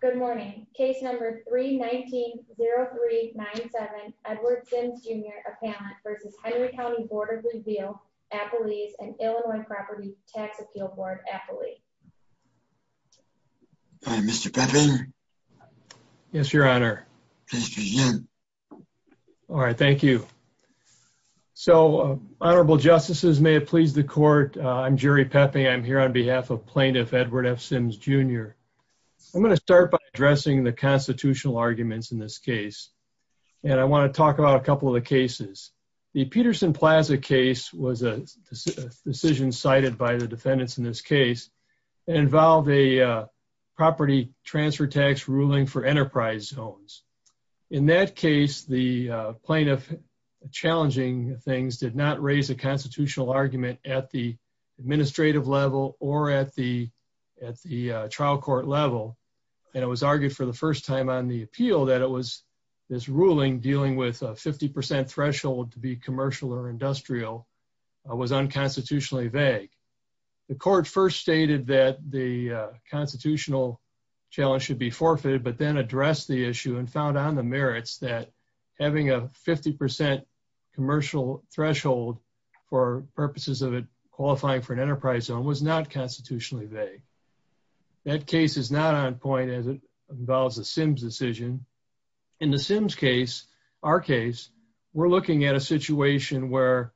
Good morning. Case number 319-0397, Edward Sims Jr. Appellant v. Henry County Board of Review Appellees and Illinois Property Tax Appeal Board Appellee. Hi, Mr. Pepping. Yes, Your Honor. Please begin. All right, thank you. So, Honorable Justices, may it please the Court, I'm Jerry Pepping. I'm here on behalf of Plaintiff Edward F. Sims Jr. I'm going to start by addressing the constitutional arguments in this case. And I want to talk about a couple of the cases. The Peterson Plaza case was a decision cited by the defendants in this case. It involved a property transfer tax ruling for enterprise zones. In that case, the plaintiff, challenging things, did not raise a constitutional argument at the administrative level or at the trial court level. And it was argued for the first time on the appeal that it was this ruling dealing with a 50% threshold to be commercial or industrial was unconstitutionally vague. The Court first stated that the constitutional challenge should be forfeited, but then addressed the issue and found on the merits that having a 50% commercial threshold for purposes of it qualifying for an enterprise zone was not constitutionally vague. That case is not on point as it involves the Sims decision. In the Sims case, our case, we're looking at a situation where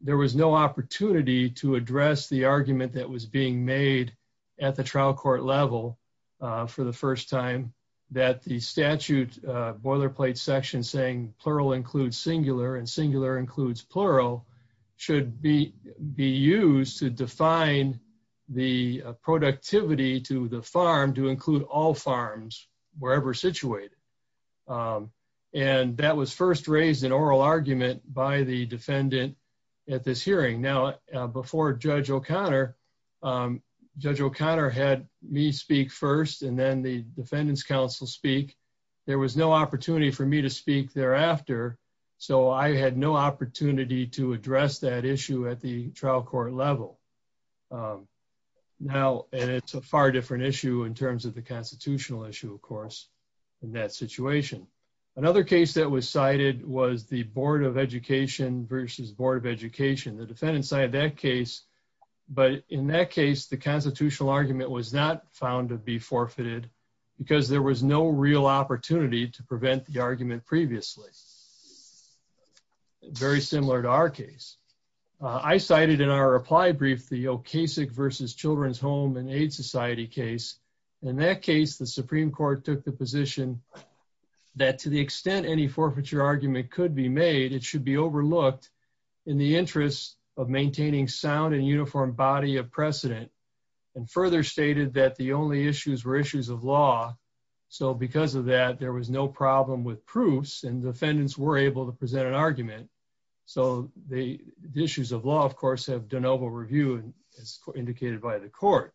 there was no opportunity to address the argument that was being made at the trial court level. For the first time, that the statute boilerplate section saying plural includes singular and singular includes plural should be used to define the productivity to the farm to include all farms, wherever situated. And that was first raised in oral argument by the defendant at this hearing. Now, before Judge O'Connor, Judge O'Connor had me speak first and then the defendant's counsel speak. There was no opportunity for me to speak thereafter. So I had no opportunity to address that issue at the trial court level. Now, and it's a far different issue in terms of the constitutional issue, of course, in that situation. Another case that was cited was the Board of Education versus Board of Education, the defendant side of that case. But in that case, the constitutional argument was not found to be forfeited because there was no real opportunity to prevent the argument previously. Very similar to our case. I cited in our reply brief, the Okasik versus Children's Home and Aid Society case. In that case, the Supreme Court took the position that to the extent any forfeiture argument could be made, it should be overlooked in the interest of maintaining sound and uniform body of precedent. And further stated that the only issues were issues of law. So because of that, there was no problem with proofs and defendants were able to present an argument. So the issues of law, of course, have done over review as indicated by the court.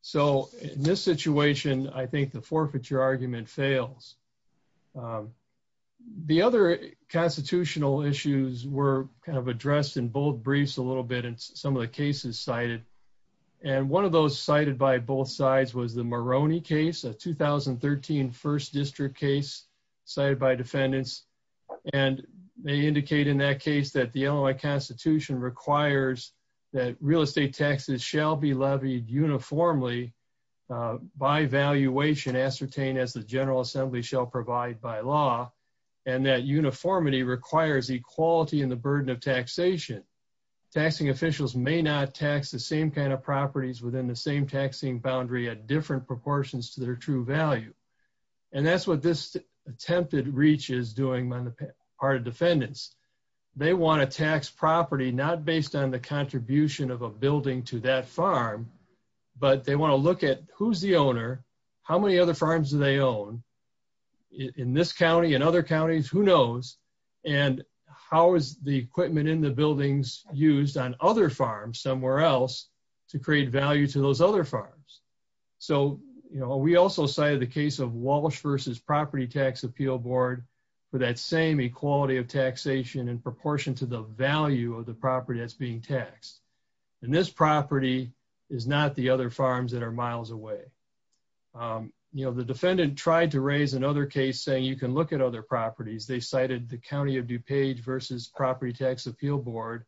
So in this situation, I think the forfeiture argument fails. The other constitutional issues were kind of addressed in bold briefs a little bit in some of the cases cited. And one of those cited by both sides was the Maroney case, a 2013 First District case cited by defendants. And they indicate in that case that the Illinois Constitution requires that real estate taxes shall be levied uniformly by valuation ascertained as the General Assembly shall provide by law. And that uniformity requires equality in the burden of taxation. Taxing officials may not tax the same kind of properties within the same taxing boundary at different proportions to their true value. And that's what this attempted reach is doing on the part of defendants. They want to tax property not based on the contribution of a building to that farm. But they want to look at who's the owner, how many other farms do they own in this county and other counties, who knows? And how is the equipment in the buildings used on other farms somewhere else to create value to those other farms? So, you know, we also cited the case of Walsh versus Property Tax Appeal Board for that same equality of taxation in proportion to the value of the property that's being taxed. And this property is not the other farms that are miles away. You know, the defendant tried to raise another case saying you can look at other properties. They cited the County of DuPage versus Property Tax Appeal Board,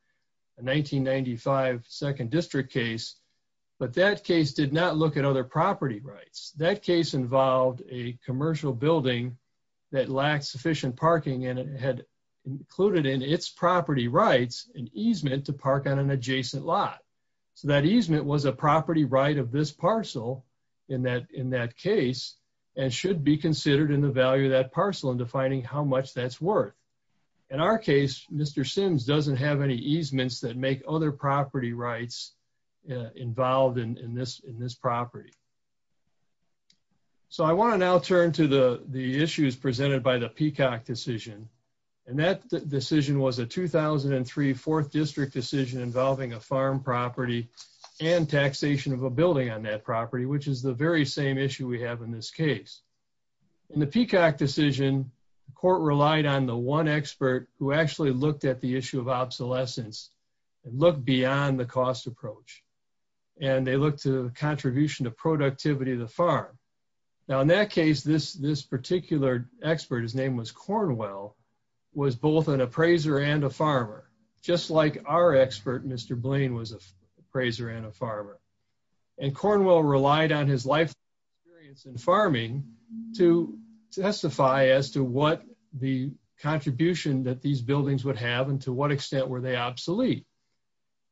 a 1995 Second District case. But that case did not look at other property rights. That case involved a commercial building that lacked sufficient parking and it had included in its property rights an easement to park on an adjacent lot. So that easement was a property right of this parcel in that case and should be considered in the value of that parcel and defining how much that's worth. In our case, Mr. Sims doesn't have any easements that make other property rights involved in this property. So I want to now turn to the issues presented by the Peacock decision. And that decision was a 2003 Fourth District decision involving a farm property and taxation of a building on that property, which is the very same issue we have in this case. In the Peacock decision, the court relied on the one expert who actually looked at the issue of obsolescence and looked beyond the cost approach. And they looked to contribution to productivity of the farm. Now, in that case, this particular expert, his name was Cornwell, was both an appraiser and a farmer, just like our expert, Mr. Blaine, was an appraiser and a farmer. And Cornwell relied on his life experience in farming to testify as to what the contribution that these buildings would have and to what extent were they obsolete.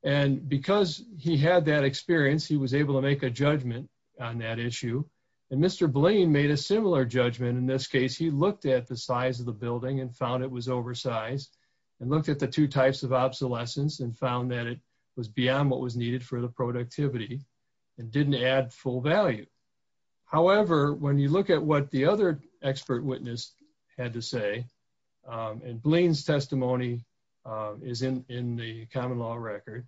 And because he had that experience, he was able to make a judgment on that issue. And Mr. Blaine made a similar judgment in this case. He looked at the size of the building and found it was oversized and looked at the two types of obsolescence and found that it was beyond what was needed for the productivity and didn't add full value. However, when you look at what the other expert witness had to say, and Blaine's testimony is in the common law record,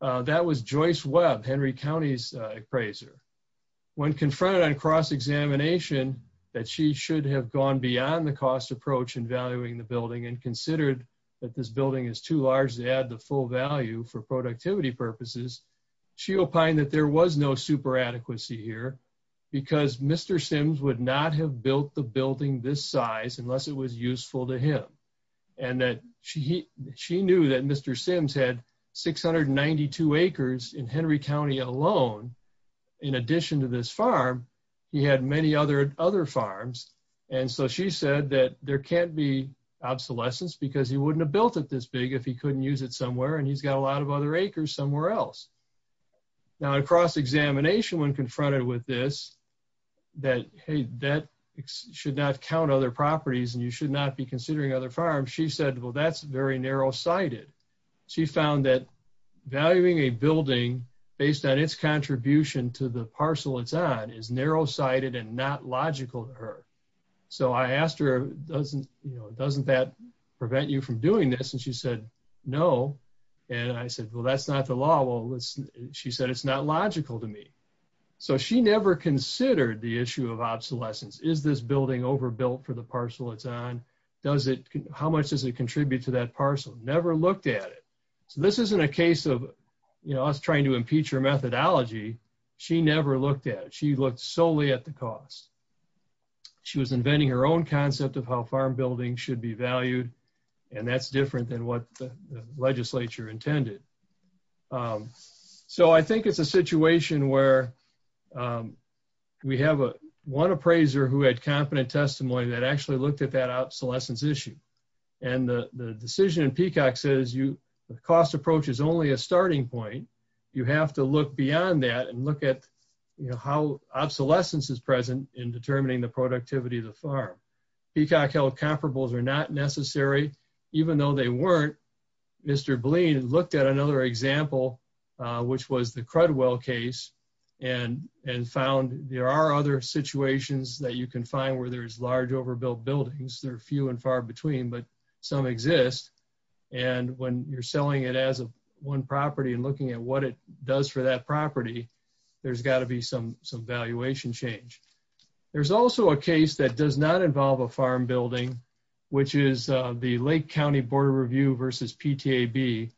that was Joyce Webb, Henry County's appraiser. When confronted on cross-examination that she should have gone beyond the cost approach in valuing the building and considered that this building is too large to add the full value for productivity purposes, she opined that there was no super adequacy here because Mr. Sims would not have built the building this size unless it was useful to him. And that she knew that Mr. Sims had 692 acres in Henry County alone. In addition to this farm, he had many other farms. And so she said that there can't be obsolescence because he wouldn't have built it this big if he couldn't use it somewhere and he's got a lot of other acres somewhere else. Now in cross-examination, when confronted with this, that, hey, that should not count other properties and you should not be considering other farms, she said, well, that's very narrow-sighted. She found that valuing a building based on its contribution to the parcel it's on is narrow-sighted and not logical to her. So I asked her, doesn't that prevent you from doing this? And she said, no. And I said, well, that's not the law. Well, she said, it's not logical to me. So she never considered the issue of obsolescence. Is this building overbuilt for the parcel it's on? How much does it contribute to that parcel? Never looked at it. So this isn't a case of us trying to impeach her methodology. She never looked at it. She looked solely at the cost. She was inventing her own concept of how farm buildings should be valued. And that's different than what the legislature intended. So I think it's a situation where we have one appraiser who had competent testimony that actually looked at that obsolescence issue. And the decision in Peacock says the cost approach is only a starting point. You have to look beyond that and look at how obsolescence is present in determining the productivity of the farm. Peacock held comparables are not necessary, even though they weren't. Mr. Bleen looked at another example, which was the Crudwell case and found there are other situations that you can find where there is large overbuilt buildings. There are few and far between, but some exist. And when you're selling it as a one property and looking at what it does for that property, there's got to be some valuation change. There's also a case that does not involve a farm building, which is the Lake County Board of Review versus PTAB,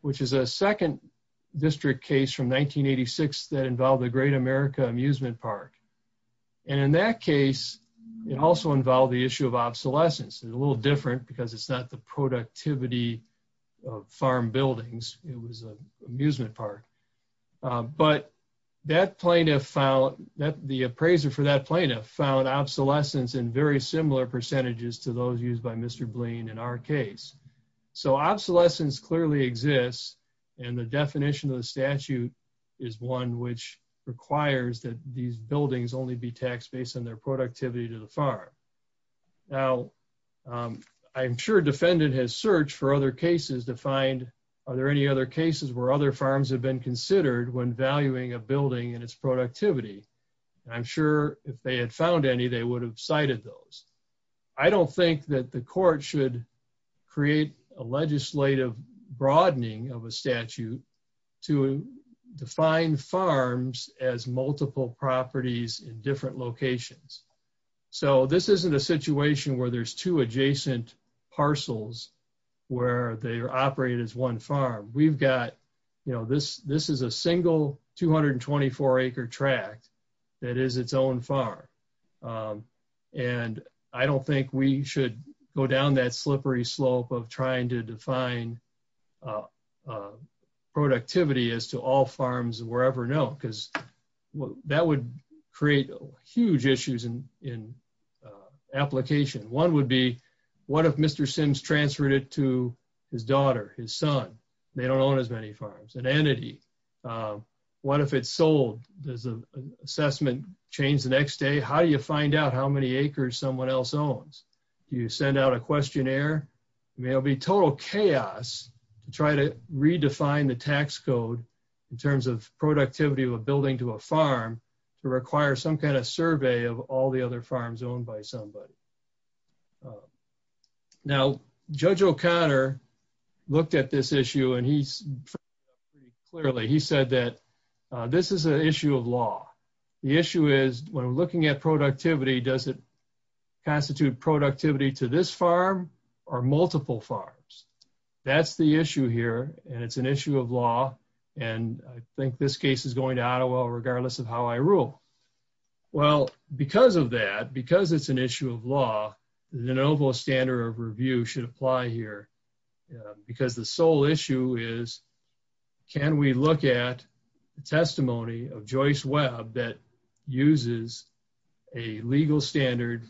which is a second district case from 1986 that involved the Great America Amusement Park. And in that case, it also involved the issue of obsolescence and a little different because it's not the productivity of farm buildings. It was an amusement park. But the appraiser for that plaintiff found obsolescence in very similar percentages to those used by Mr. Bleen in our case. So obsolescence clearly exists. And the definition of the statute is one which requires that these buildings only be taxed based on their productivity to the farm. Now, I'm sure defendant has searched for other cases to find, are there any other cases where other farms have been considered when valuing a building and its productivity? I'm sure if they had found any, they would have cited those. I don't think that the court should create a legislative broadening of a statute to define farms as multiple properties in different locations. So this isn't a situation where there's two adjacent parcels, where they are operated as one farm. We've got, you know, this is a single 224 acre tract that is its own farm. And I don't think we should go down that slippery slope of trying to define productivity as to all farms wherever known because that would create huge issues in application. One would be, what if Mr. Sims transferred it to his daughter, his son? They don't own as many farms, an entity. What if it's sold? Does the assessment change the next day? How do you find out how many acres someone else owns? Do you send out a questionnaire? I mean, it'll be total chaos to try to redefine the tax code in terms of productivity of a building to a farm to require some kind of survey of all the other farms owned by somebody. Now, Judge O'Connor looked at this issue and he said that this is an issue of law. The issue is when we're looking at productivity, does it constitute productivity to this farm or multiple farms? That's the issue here. And it's an issue of law. And I think this case is going to Ottawa, regardless of how I rule. Well, because of that, because it's an issue of law, the de novo standard of review should apply here. Because the sole issue is, can we look at the testimony of Joyce Webb that uses a legal standard,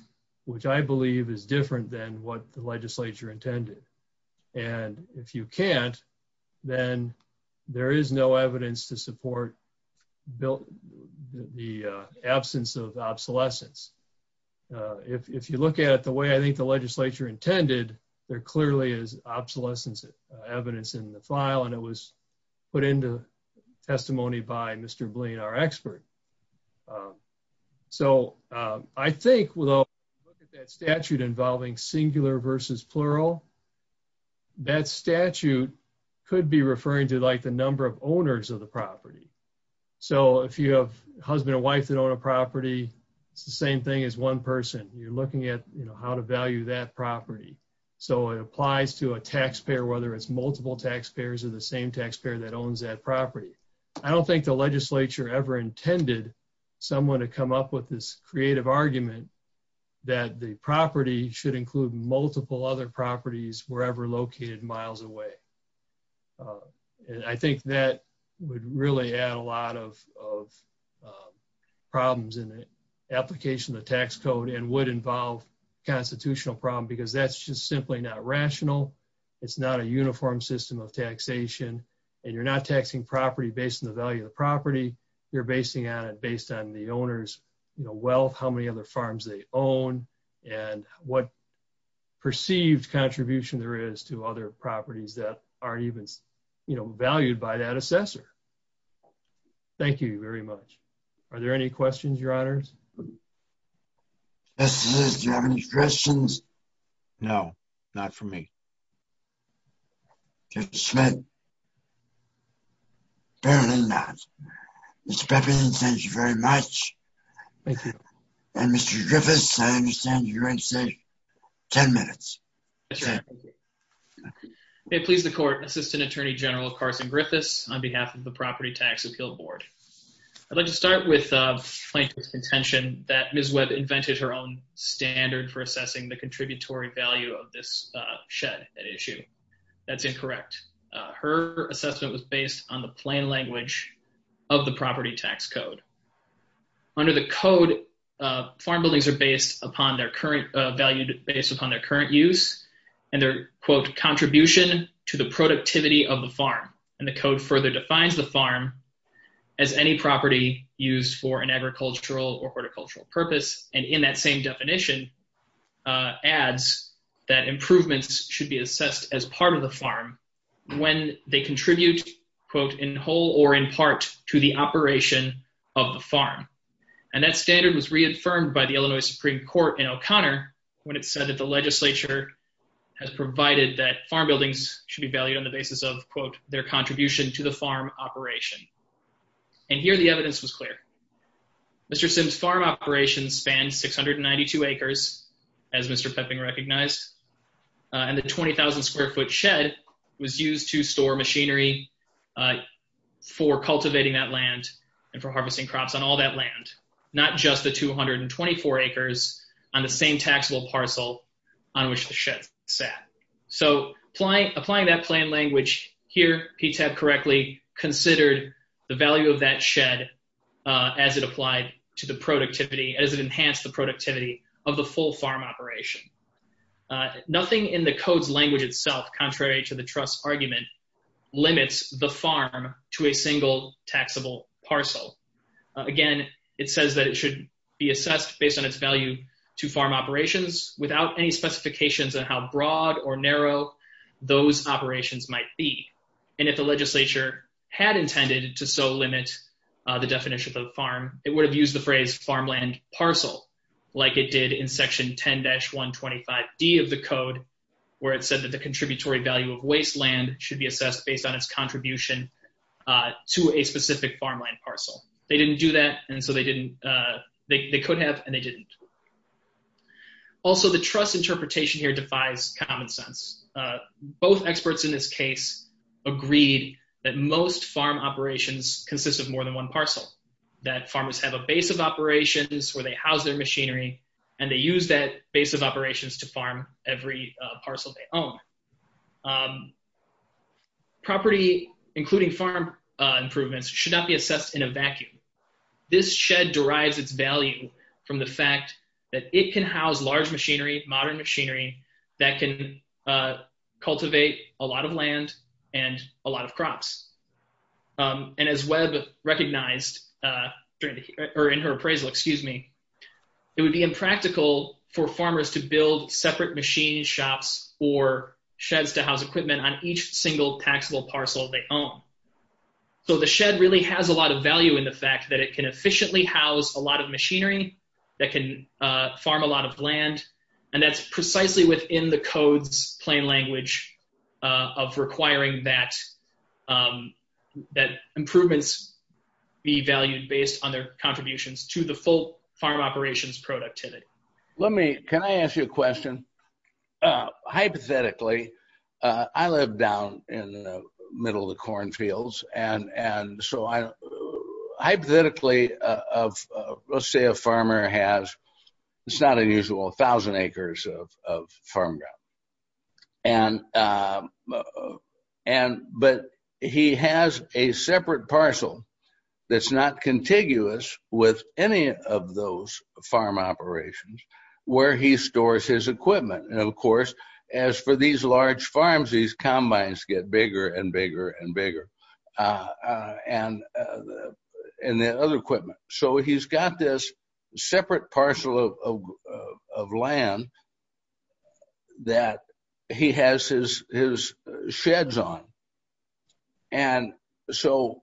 which I believe is different than what the legislature intended? And if you can't, then there is no evidence to support the absence of obsolescence. If you look at it the way I think the legislature intended, there clearly is obsolescence evidence in the file and it was put into testimony by Mr. Bleen, our expert. So I think we'll look at that statute involving singular versus plural. That statute could be referring to like the number of owners of the property. So if you have a husband or wife that own a property, it's the same thing as one person. You're looking at how to value that property. So it applies to a taxpayer, whether it's multiple taxpayers or the same taxpayer that owns that property. I don't think the legislature ever intended someone to come up with this creative argument that the property should include multiple other properties wherever located miles away. I think that would really add a lot of problems in the application of the tax code and would involve constitutional problem because that's just simply not rational. It's not a uniform system of taxation and you're not taxing property based on the value of the property. You're basing on it based on the owner's wealth, how many other farms they own and what perceived contribution there is to other properties that aren't even valued by that assessor. Thank you very much. Are there any questions, your honors? Do you have any questions? No, not for me. Mr. Smith? Apparently not. Mr. Beppinen, thank you very much. Thank you. And Mr. Griffiths, I understand you're going to say ten minutes. That's right. Thank you. May it please the court, Assistant Attorney General Carson Griffiths on behalf of the Property Tax Appeal Board. I'd like to start with plaintiff's contention that Ms. Webb invented her own standard for assessing the contributory value of this shed at issue. That's incorrect. Her assessment was based on the plain language of the property tax code. Under the code, farm buildings are based upon their current value, based upon their current use and their, quote, contribution to the productivity of the farm. And the code further defines the farm as any property used for an agricultural or horticultural purpose. And in that same definition adds that improvements should be assessed as part of the farm when they contribute, quote, in whole or in part to the operation of the farm. And that standard was reaffirmed by the Illinois Supreme Court in O'Connor when it said that the legislature has provided that farm buildings should be valued on the basis of, quote, their contribution to the farm operation. And here the evidence was clear. Mr. Sims' farm operation spanned 692 acres, as Mr. Pepping recognized, and the 20,000-square-foot shed was used to store machinery for cultivating that land and for harvesting crops on all that land, not just the 224 acres on the same taxable parcel on which the shed sat. So applying that plan language here, PTAP correctly considered the value of that shed as it applied to the productivity, as it enhanced the productivity of the full farm operation. Nothing in the code's language itself, contrary to the trust argument, limits the farm to a single taxable parcel. Again, it says that it should be assessed based on its value to farm operations without any specifications on how broad or narrow those operations might be. And if the legislature had intended to so limit the definition of farm, it would have used the phrase farmland parcel, like it did in Section 10-125D of the code, where it said that the contributory value of wasteland should be assessed based on its contribution to a specific farmland parcel. They didn't do that, and so they didn't – they could have, and they didn't. Also, the trust interpretation here defies common sense. Both experts in this case agreed that most farm operations consist of more than one parcel, that farmers have a base of operations where they house their machinery, and they use that base of operations to farm every parcel they own. Property, including farm improvements, should not be assessed in a vacuum. This shed derives its value from the fact that it can house large machinery, modern machinery, that can cultivate a lot of land and a lot of crops. And as Webb recognized during the – or in her appraisal, excuse me, it would be impractical for farmers to build separate machine shops or sheds to house equipment on each single taxable parcel they own. So the shed really has a lot of value in the fact that it can efficiently house a lot of machinery, that can farm a lot of land, and that's precisely within the code's plain language of requiring that improvements be valued based on their contributions to the full farm operations productivity. Can I ask you a question? Hypothetically, I live down in the middle of the cornfields, and so hypothetically, let's say a farmer has – it's not unusual – a thousand acres of farm ground. But he has a separate parcel that's not contiguous with any of those farm operations where he stores his equipment. As for these large farms, these combines get bigger and bigger and bigger, and the other equipment. So he's got this separate parcel of land that he has his sheds on. And so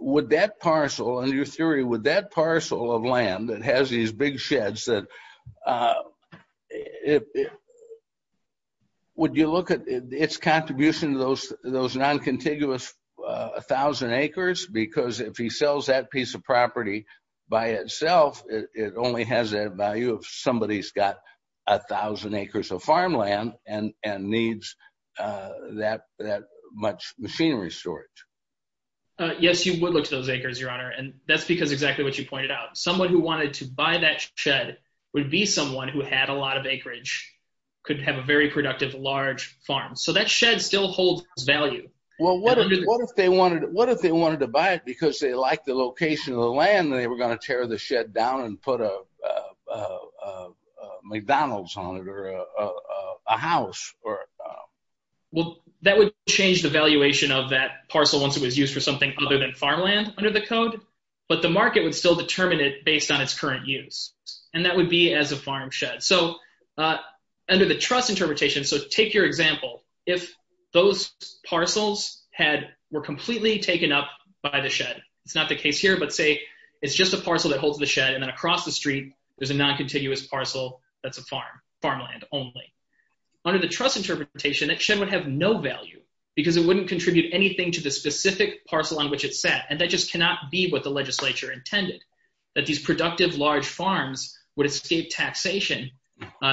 would that parcel – in your theory, would that parcel of land that has these big sheds, would you look at its contribution to those non-contiguous thousand acres? Because if he sells that piece of property by itself, it only has that value if somebody's got a thousand acres of farmland and needs that much machinery storage. Yes, you would look to those acres, Your Honor, and that's because exactly what you pointed out. Someone who wanted to buy that shed would be someone who had a lot of acreage, could have a very productive large farm. So that shed still holds its value. Well, what if they wanted to buy it because they liked the location of the land and they were going to tear the shed down and put a McDonald's on it or a house? Well, that would change the valuation of that parcel once it was used for something other than farmland under the code. But the market would still determine it based on its current use. And that would be as a farm shed. So under the trust interpretation – so take your example. If those parcels were completely taken up by the shed – it's not the case here, but say it's just a parcel that holds the shed and then across the street, there's a non-contiguous parcel that's a farm, farmland only. Under the trust interpretation, that shed would have no value because it wouldn't contribute anything to the specific parcel on which it's set. And that just cannot be what the legislature intended, that these productive large farms would escape taxation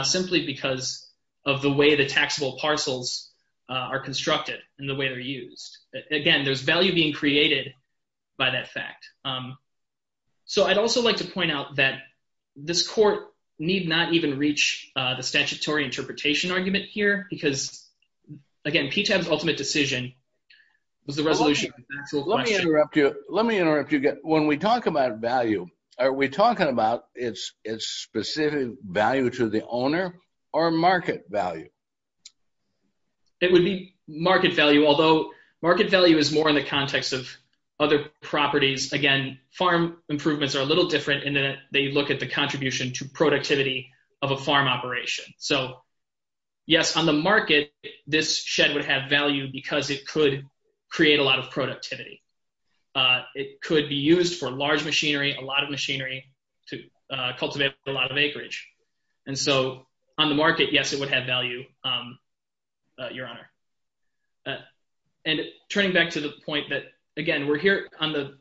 simply because of the way the taxable parcels are constructed and the way they're used. Again, there's value being created by that fact. So I'd also like to point out that this court need not even reach the statutory interpretation argument here because, again, PTAB's ultimate decision was the resolution. Let me interrupt you. When we talk about value, are we talking about its specific value to the owner or market value? It would be market value, although market value is more in the context of other properties. Again, farm improvements are a little different in that they look at the contribution to productivity of a farm operation. So, yes, on the market, this shed would have value because it could create a lot of productivity. It could be used for large machinery, a lot of machinery to cultivate a lot of acreage. And so on the market, yes, it would have value, Your Honor. And turning back to the point that, again, we're here on the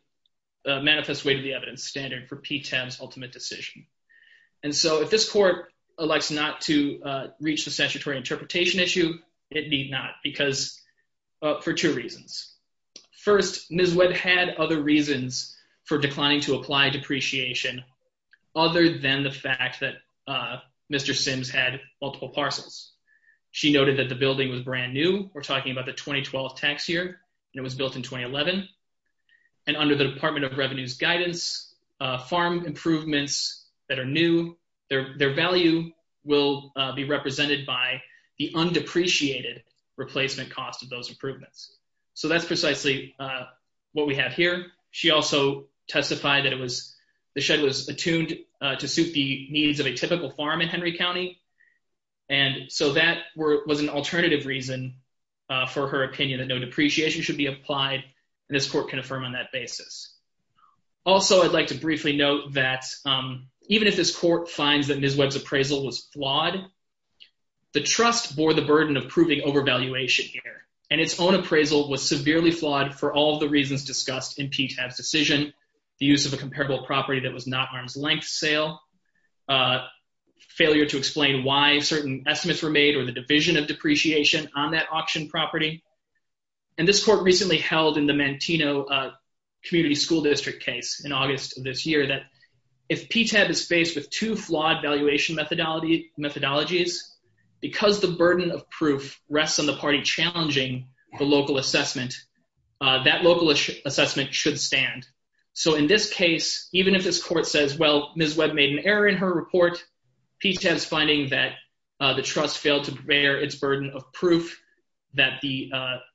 manifest way to the evidence standard for PTAB's ultimate decision. And so if this court elects not to reach the statutory interpretation issue, it need not because for two reasons. First, Ms. Webb had other reasons for declining to apply depreciation other than the fact that Mr. Sims had multiple parcels. She noted that the building was brand new. We're talking about the 2012 tax year. It was built in 2011. And under the Department of Revenue's guidance, farm improvements that are new, their value will be represented by the undepreciated replacement cost of those improvements. So that's precisely what we have here. She also testified that it was the shed was attuned to suit the needs of a typical farm in Henry County. And so that was an alternative reason for her opinion that no depreciation should be applied. And this court can affirm on that basis. Also, I'd like to briefly note that even if this court finds that Ms. Webb's appraisal was flawed, the trust bore the burden of proving overvaluation here, and its own appraisal was severely flawed for all the reasons discussed in PTAB's decision. The use of a comparable property that was not arm's length sale, failure to explain why certain estimates were made, or the division of depreciation on that auction property. And this court recently held in the Mantino Community School District case in August of this year, that if PTAB is faced with two flawed valuation methodologies, because the burden of proof rests on the party challenging the local assessment, that local assessment should stand. So in this case, even if this court says, well, Ms. Webb made an error in her report, PTAB's finding that the trust failed to bear its burden of proof that the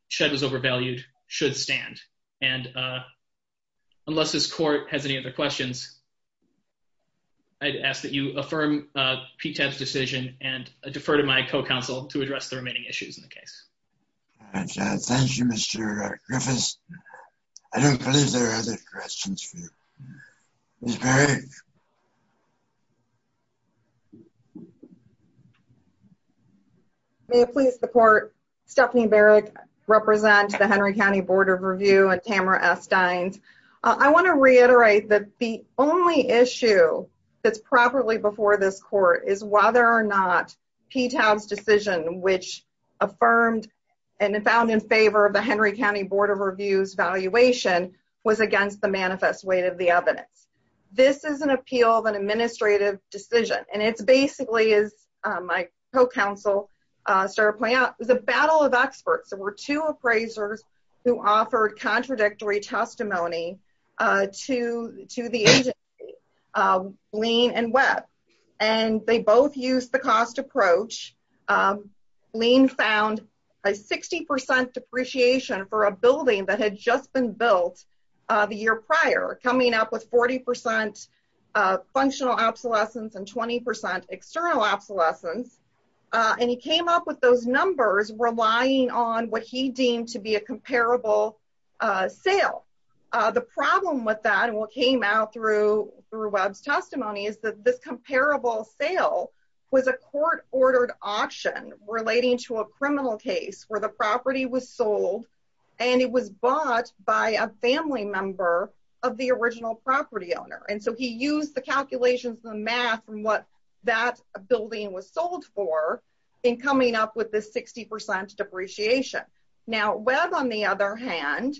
shed was overvalued should stand. And unless this court has any other questions, I'd ask that you affirm PTAB's decision, and defer to my co-counsel to address the remaining issues in the case. Thank you, Mr. Griffiths. I don't believe there are other questions for you. Ms. Barrick. May it please the court, Stephanie Barrick, represent the Henry County Board of Review and Tamara Esteins. I want to reiterate that the only issue that's properly before this court is whether or not PTAB's decision, which affirmed and found in favor of the Henry County Board of Review's valuation, was against the manifest weight of the evidence. This is an appeal of an administrative decision, and it's basically, as my co-counsel started pointing out, it was a battle of experts. There were two appraisers who offered contradictory testimony to the agency, Lean and Webb, and they both used the cost approach. Lean found a 60% depreciation for a building that had just been built the year prior, coming up with 40% functional obsolescence and 20% external obsolescence, and he came up with those numbers relying on what he deemed to be a comparable sale. The problem with that and what came out through Webb's testimony is that this comparable sale was a court-ordered auction relating to a criminal case where the property was sold, and it was bought by a family member of the original property owner, and so he used the calculations and the math from what that building was sold for in coming up with this 60% depreciation. Now, Webb, on the other hand,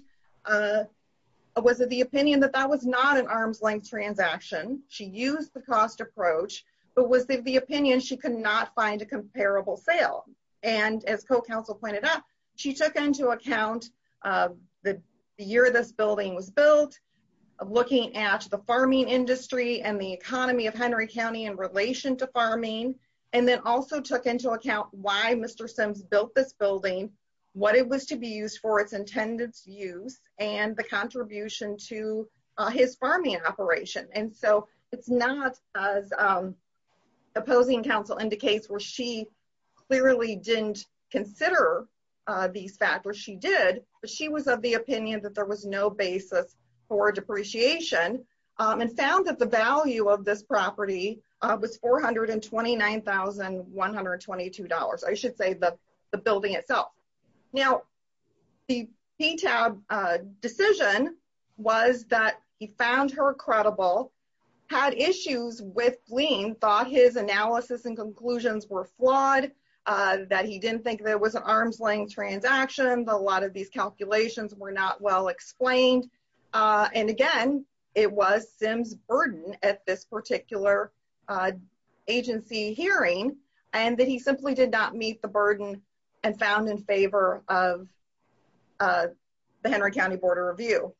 was of the opinion that that was not an arm's-length transaction. She used the cost approach, but was of the opinion she could not find a comparable sale, and as co-counsel pointed out, she took into account the year this building was built, looking at the farming industry and the economy of Henry County in relation to farming, and then also took into account why Mr. Sims built this building, what it was to be used for its intended use, and the contribution to his farming operation. And so it's not as opposing counsel indicates where she clearly didn't consider these factors. She did, but she was of the opinion that there was no basis for depreciation and found that the value of this property was $429,122, I should say, the building itself. Now, the PTAB decision was that he found her credible, had issues with Gleam, thought his analysis and conclusions were flawed, that he didn't think there was an arm's-length transaction, that a lot of these calculations were not well explained, and again, it was Sims' burden at this particular agency hearing, and that he simply did not meet the burden and found in favor of the Henry County Board of Review.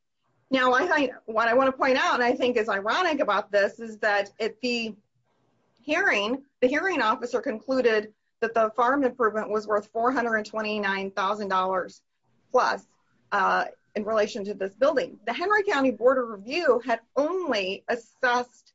Now, what I want to point out and I think is ironic about this is that the hearing officer concluded that the farm improvement was worth $429,000 plus in relation to this building. The Henry County Board of Review had only assessed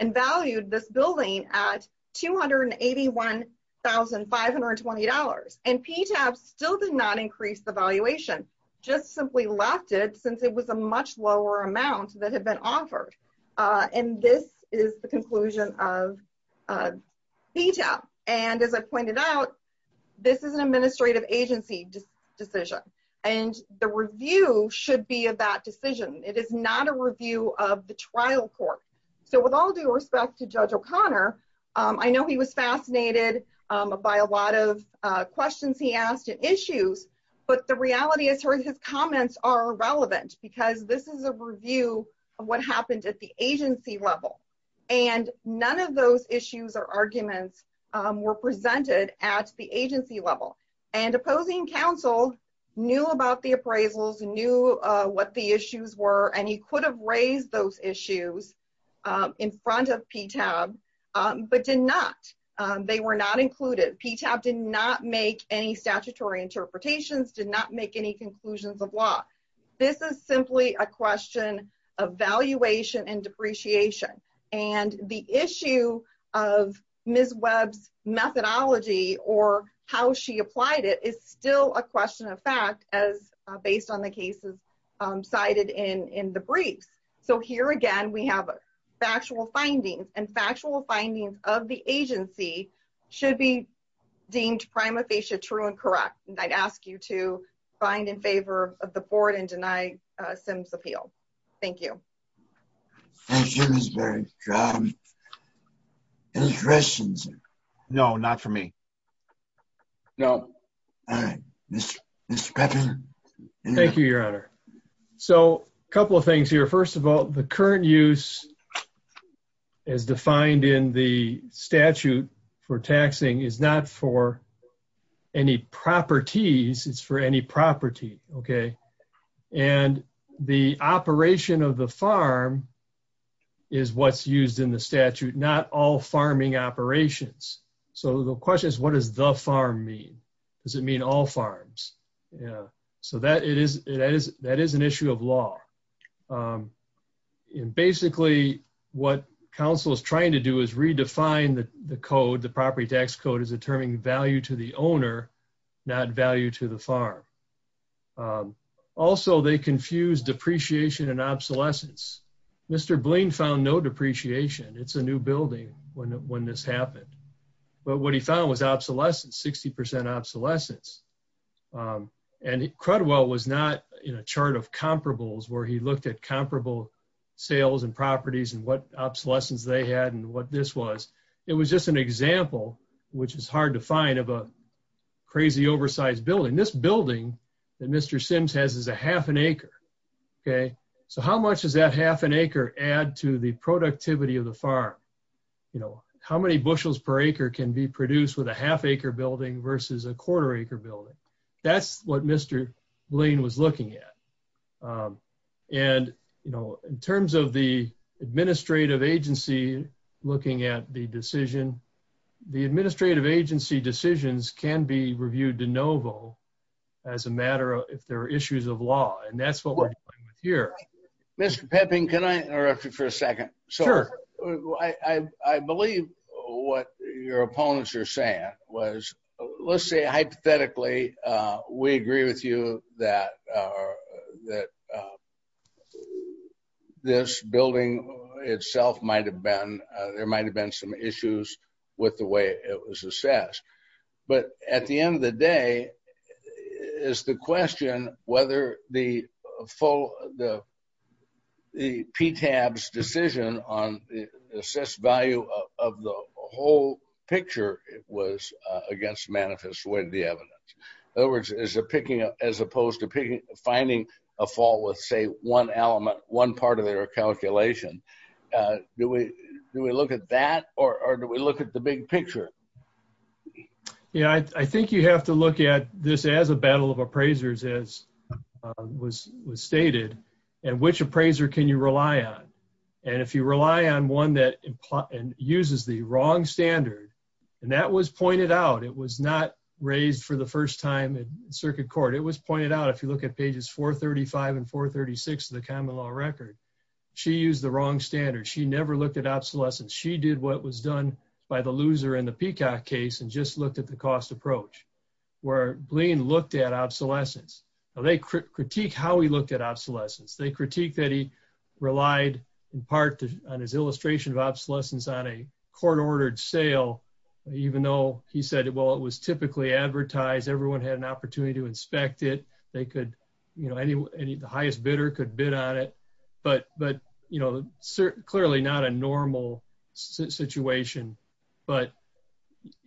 and valued this building at $281,520, and PTAB still did not increase the valuation, just simply left it since it was a much lower amount that had been offered. And this is the conclusion of PTAB. And as I pointed out, this is an administrative agency decision, and the review should be of that decision. It is not a review of the trial court. So with all due respect to Judge O'Connor, I know he was fascinated by a lot of questions he asked and issues, but the reality is his comments are irrelevant because this is a review of what happened at the agency level, and none of those issues or arguments were presented at the agency level. And opposing counsel knew about the appraisals, knew what the issues were, and he could have raised those issues in front of PTAB, but did not. They were not included. PTAB did not make any statutory interpretations, did not make any conclusions of law. This is simply a question of valuation and depreciation. And the issue of Ms. Webb's methodology or how she applied it is still a question of fact, as based on the cases cited in the briefs. So here again we have factual findings, and factual findings of the agency should be deemed prima facie true and correct. And I'd ask you to find in favor of the board and deny Simms' appeal. Thank you. Thank you, Ms. Webb. Any questions? No, not for me. No. All right. Mr. Pepper? Thank you, Your Honor. So a couple of things here. First of all, the current use as defined in the statute for taxing is not for any properties. It's for any property, okay? And the operation of the farm is what's used in the statute, not all farming operations. So the question is, what does the farm mean? Does it mean all farms? And basically what counsel is trying to do is redefine the code, the property tax code, as determining value to the owner, not value to the farm. Also, they confuse depreciation and obsolescence. Mr. Blaine found no depreciation. It's a new building when this happened. But what he found was obsolescence, 60% obsolescence. And Crudwell was not in a chart of comparables where he looked at comparable sales and properties and what obsolescence they had and what this was. It was just an example, which is hard to find, of a crazy oversized building. This building that Mr. Sims has is a half an acre, okay? So how much does that half an acre add to the productivity of the farm? How many bushels per acre can be produced with a half acre building versus a quarter acre building? That's what Mr. Blaine was looking at. And in terms of the administrative agency looking at the decision, the administrative agency decisions can be reviewed de novo as a matter of if there are issues of law. And that's what we're dealing with here. Mr. Pepping, can I interrupt you for a second? Sure. I believe what your opponents are saying was, let's say, hypothetically, we agree with you that this building itself might have been, there might have been some issues with the way it was assessed. But at the end of the day, it's the question whether the PTAB's decision on the assessed value of the whole picture was against manifest way of the evidence. In other words, as opposed to finding a fault with, say, one element, one part of their calculation, do we look at that or do we look at the big picture? Yeah, I think you have to look at this as a battle of appraisers, as was stated. And which appraiser can you rely on? And if you rely on one that uses the wrong standard, and that was pointed out, it was not raised for the first time in circuit court. It was pointed out, if you look at pages 435 and 436 of the common law record, she used the wrong standard. She never looked at obsolescence. She did what was done by the loser in the Peacock case and just looked at the cost approach, where Blaine looked at obsolescence. They critique how he looked at obsolescence. They critique that he relied in part on his illustration of obsolescence on a court-ordered sale, even though he said, well, it was typically advertised. Everyone had an opportunity to inspect it. The highest bidder could bid on it, but clearly not a normal situation. But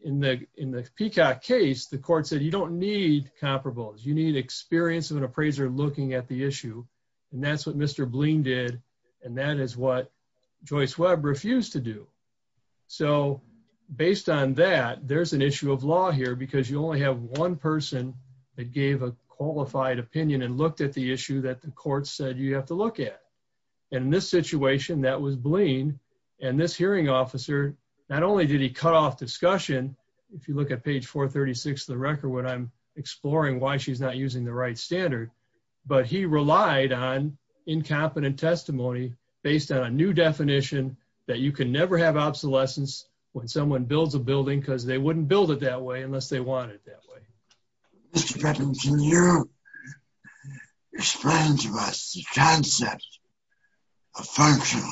in the Peacock case, the court said, you don't need comparables. You need experience of an appraiser looking at the issue. And that's what Mr. Blaine did, and that is what Joyce Webb refused to do. So based on that, there's an issue of law here, because you only have one person that gave a qualified opinion and looked at the issue that the court said you have to look at. And in this situation, that was Blaine. And this hearing officer, not only did he cut off discussion, if you look at page 436 of the record when I'm exploring why she's not using the right standard, but he relied on incompetent testimony based on a new definition that you can never have obsolescence when someone builds a building because they wouldn't build it that way unless they wanted it that way. Mr. Bevin, can you explain to us the concept of functional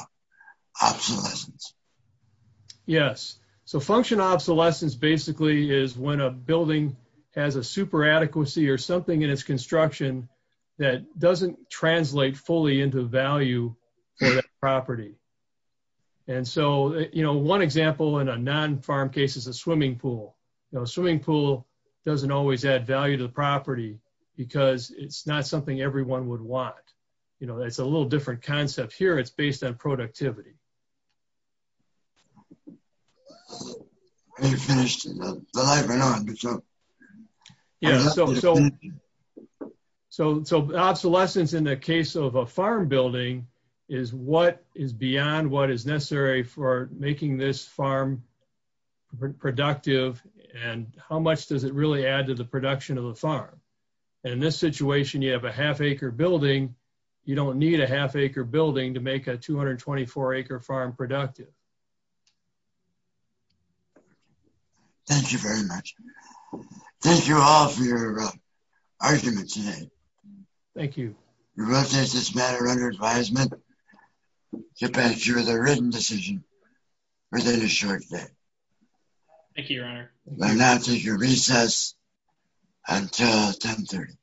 obsolescence? Yes. So functional obsolescence basically is when a building has a super adequacy or something in its construction that doesn't translate fully into value for that property. And so, you know, one example in a non-farm case is a swimming pool. A swimming pool doesn't always add value to the property because it's not something everyone would want. You know, it's a little different concept here. It's based on productivity. So obsolescence in the case of a farm building is what is beyond what is necessary for making this farm productive and how much does it really add to the production of the farm. And in this situation, you have a half-acre building. You don't need a half-acre building to make a 224-acre farm productive. Thank you very much. Thank you all for your argument today. Thank you. We will take this matter under advisement to pass you with a written decision within a short time. Thank you, Your Honor. You may now take your recess until 10.30.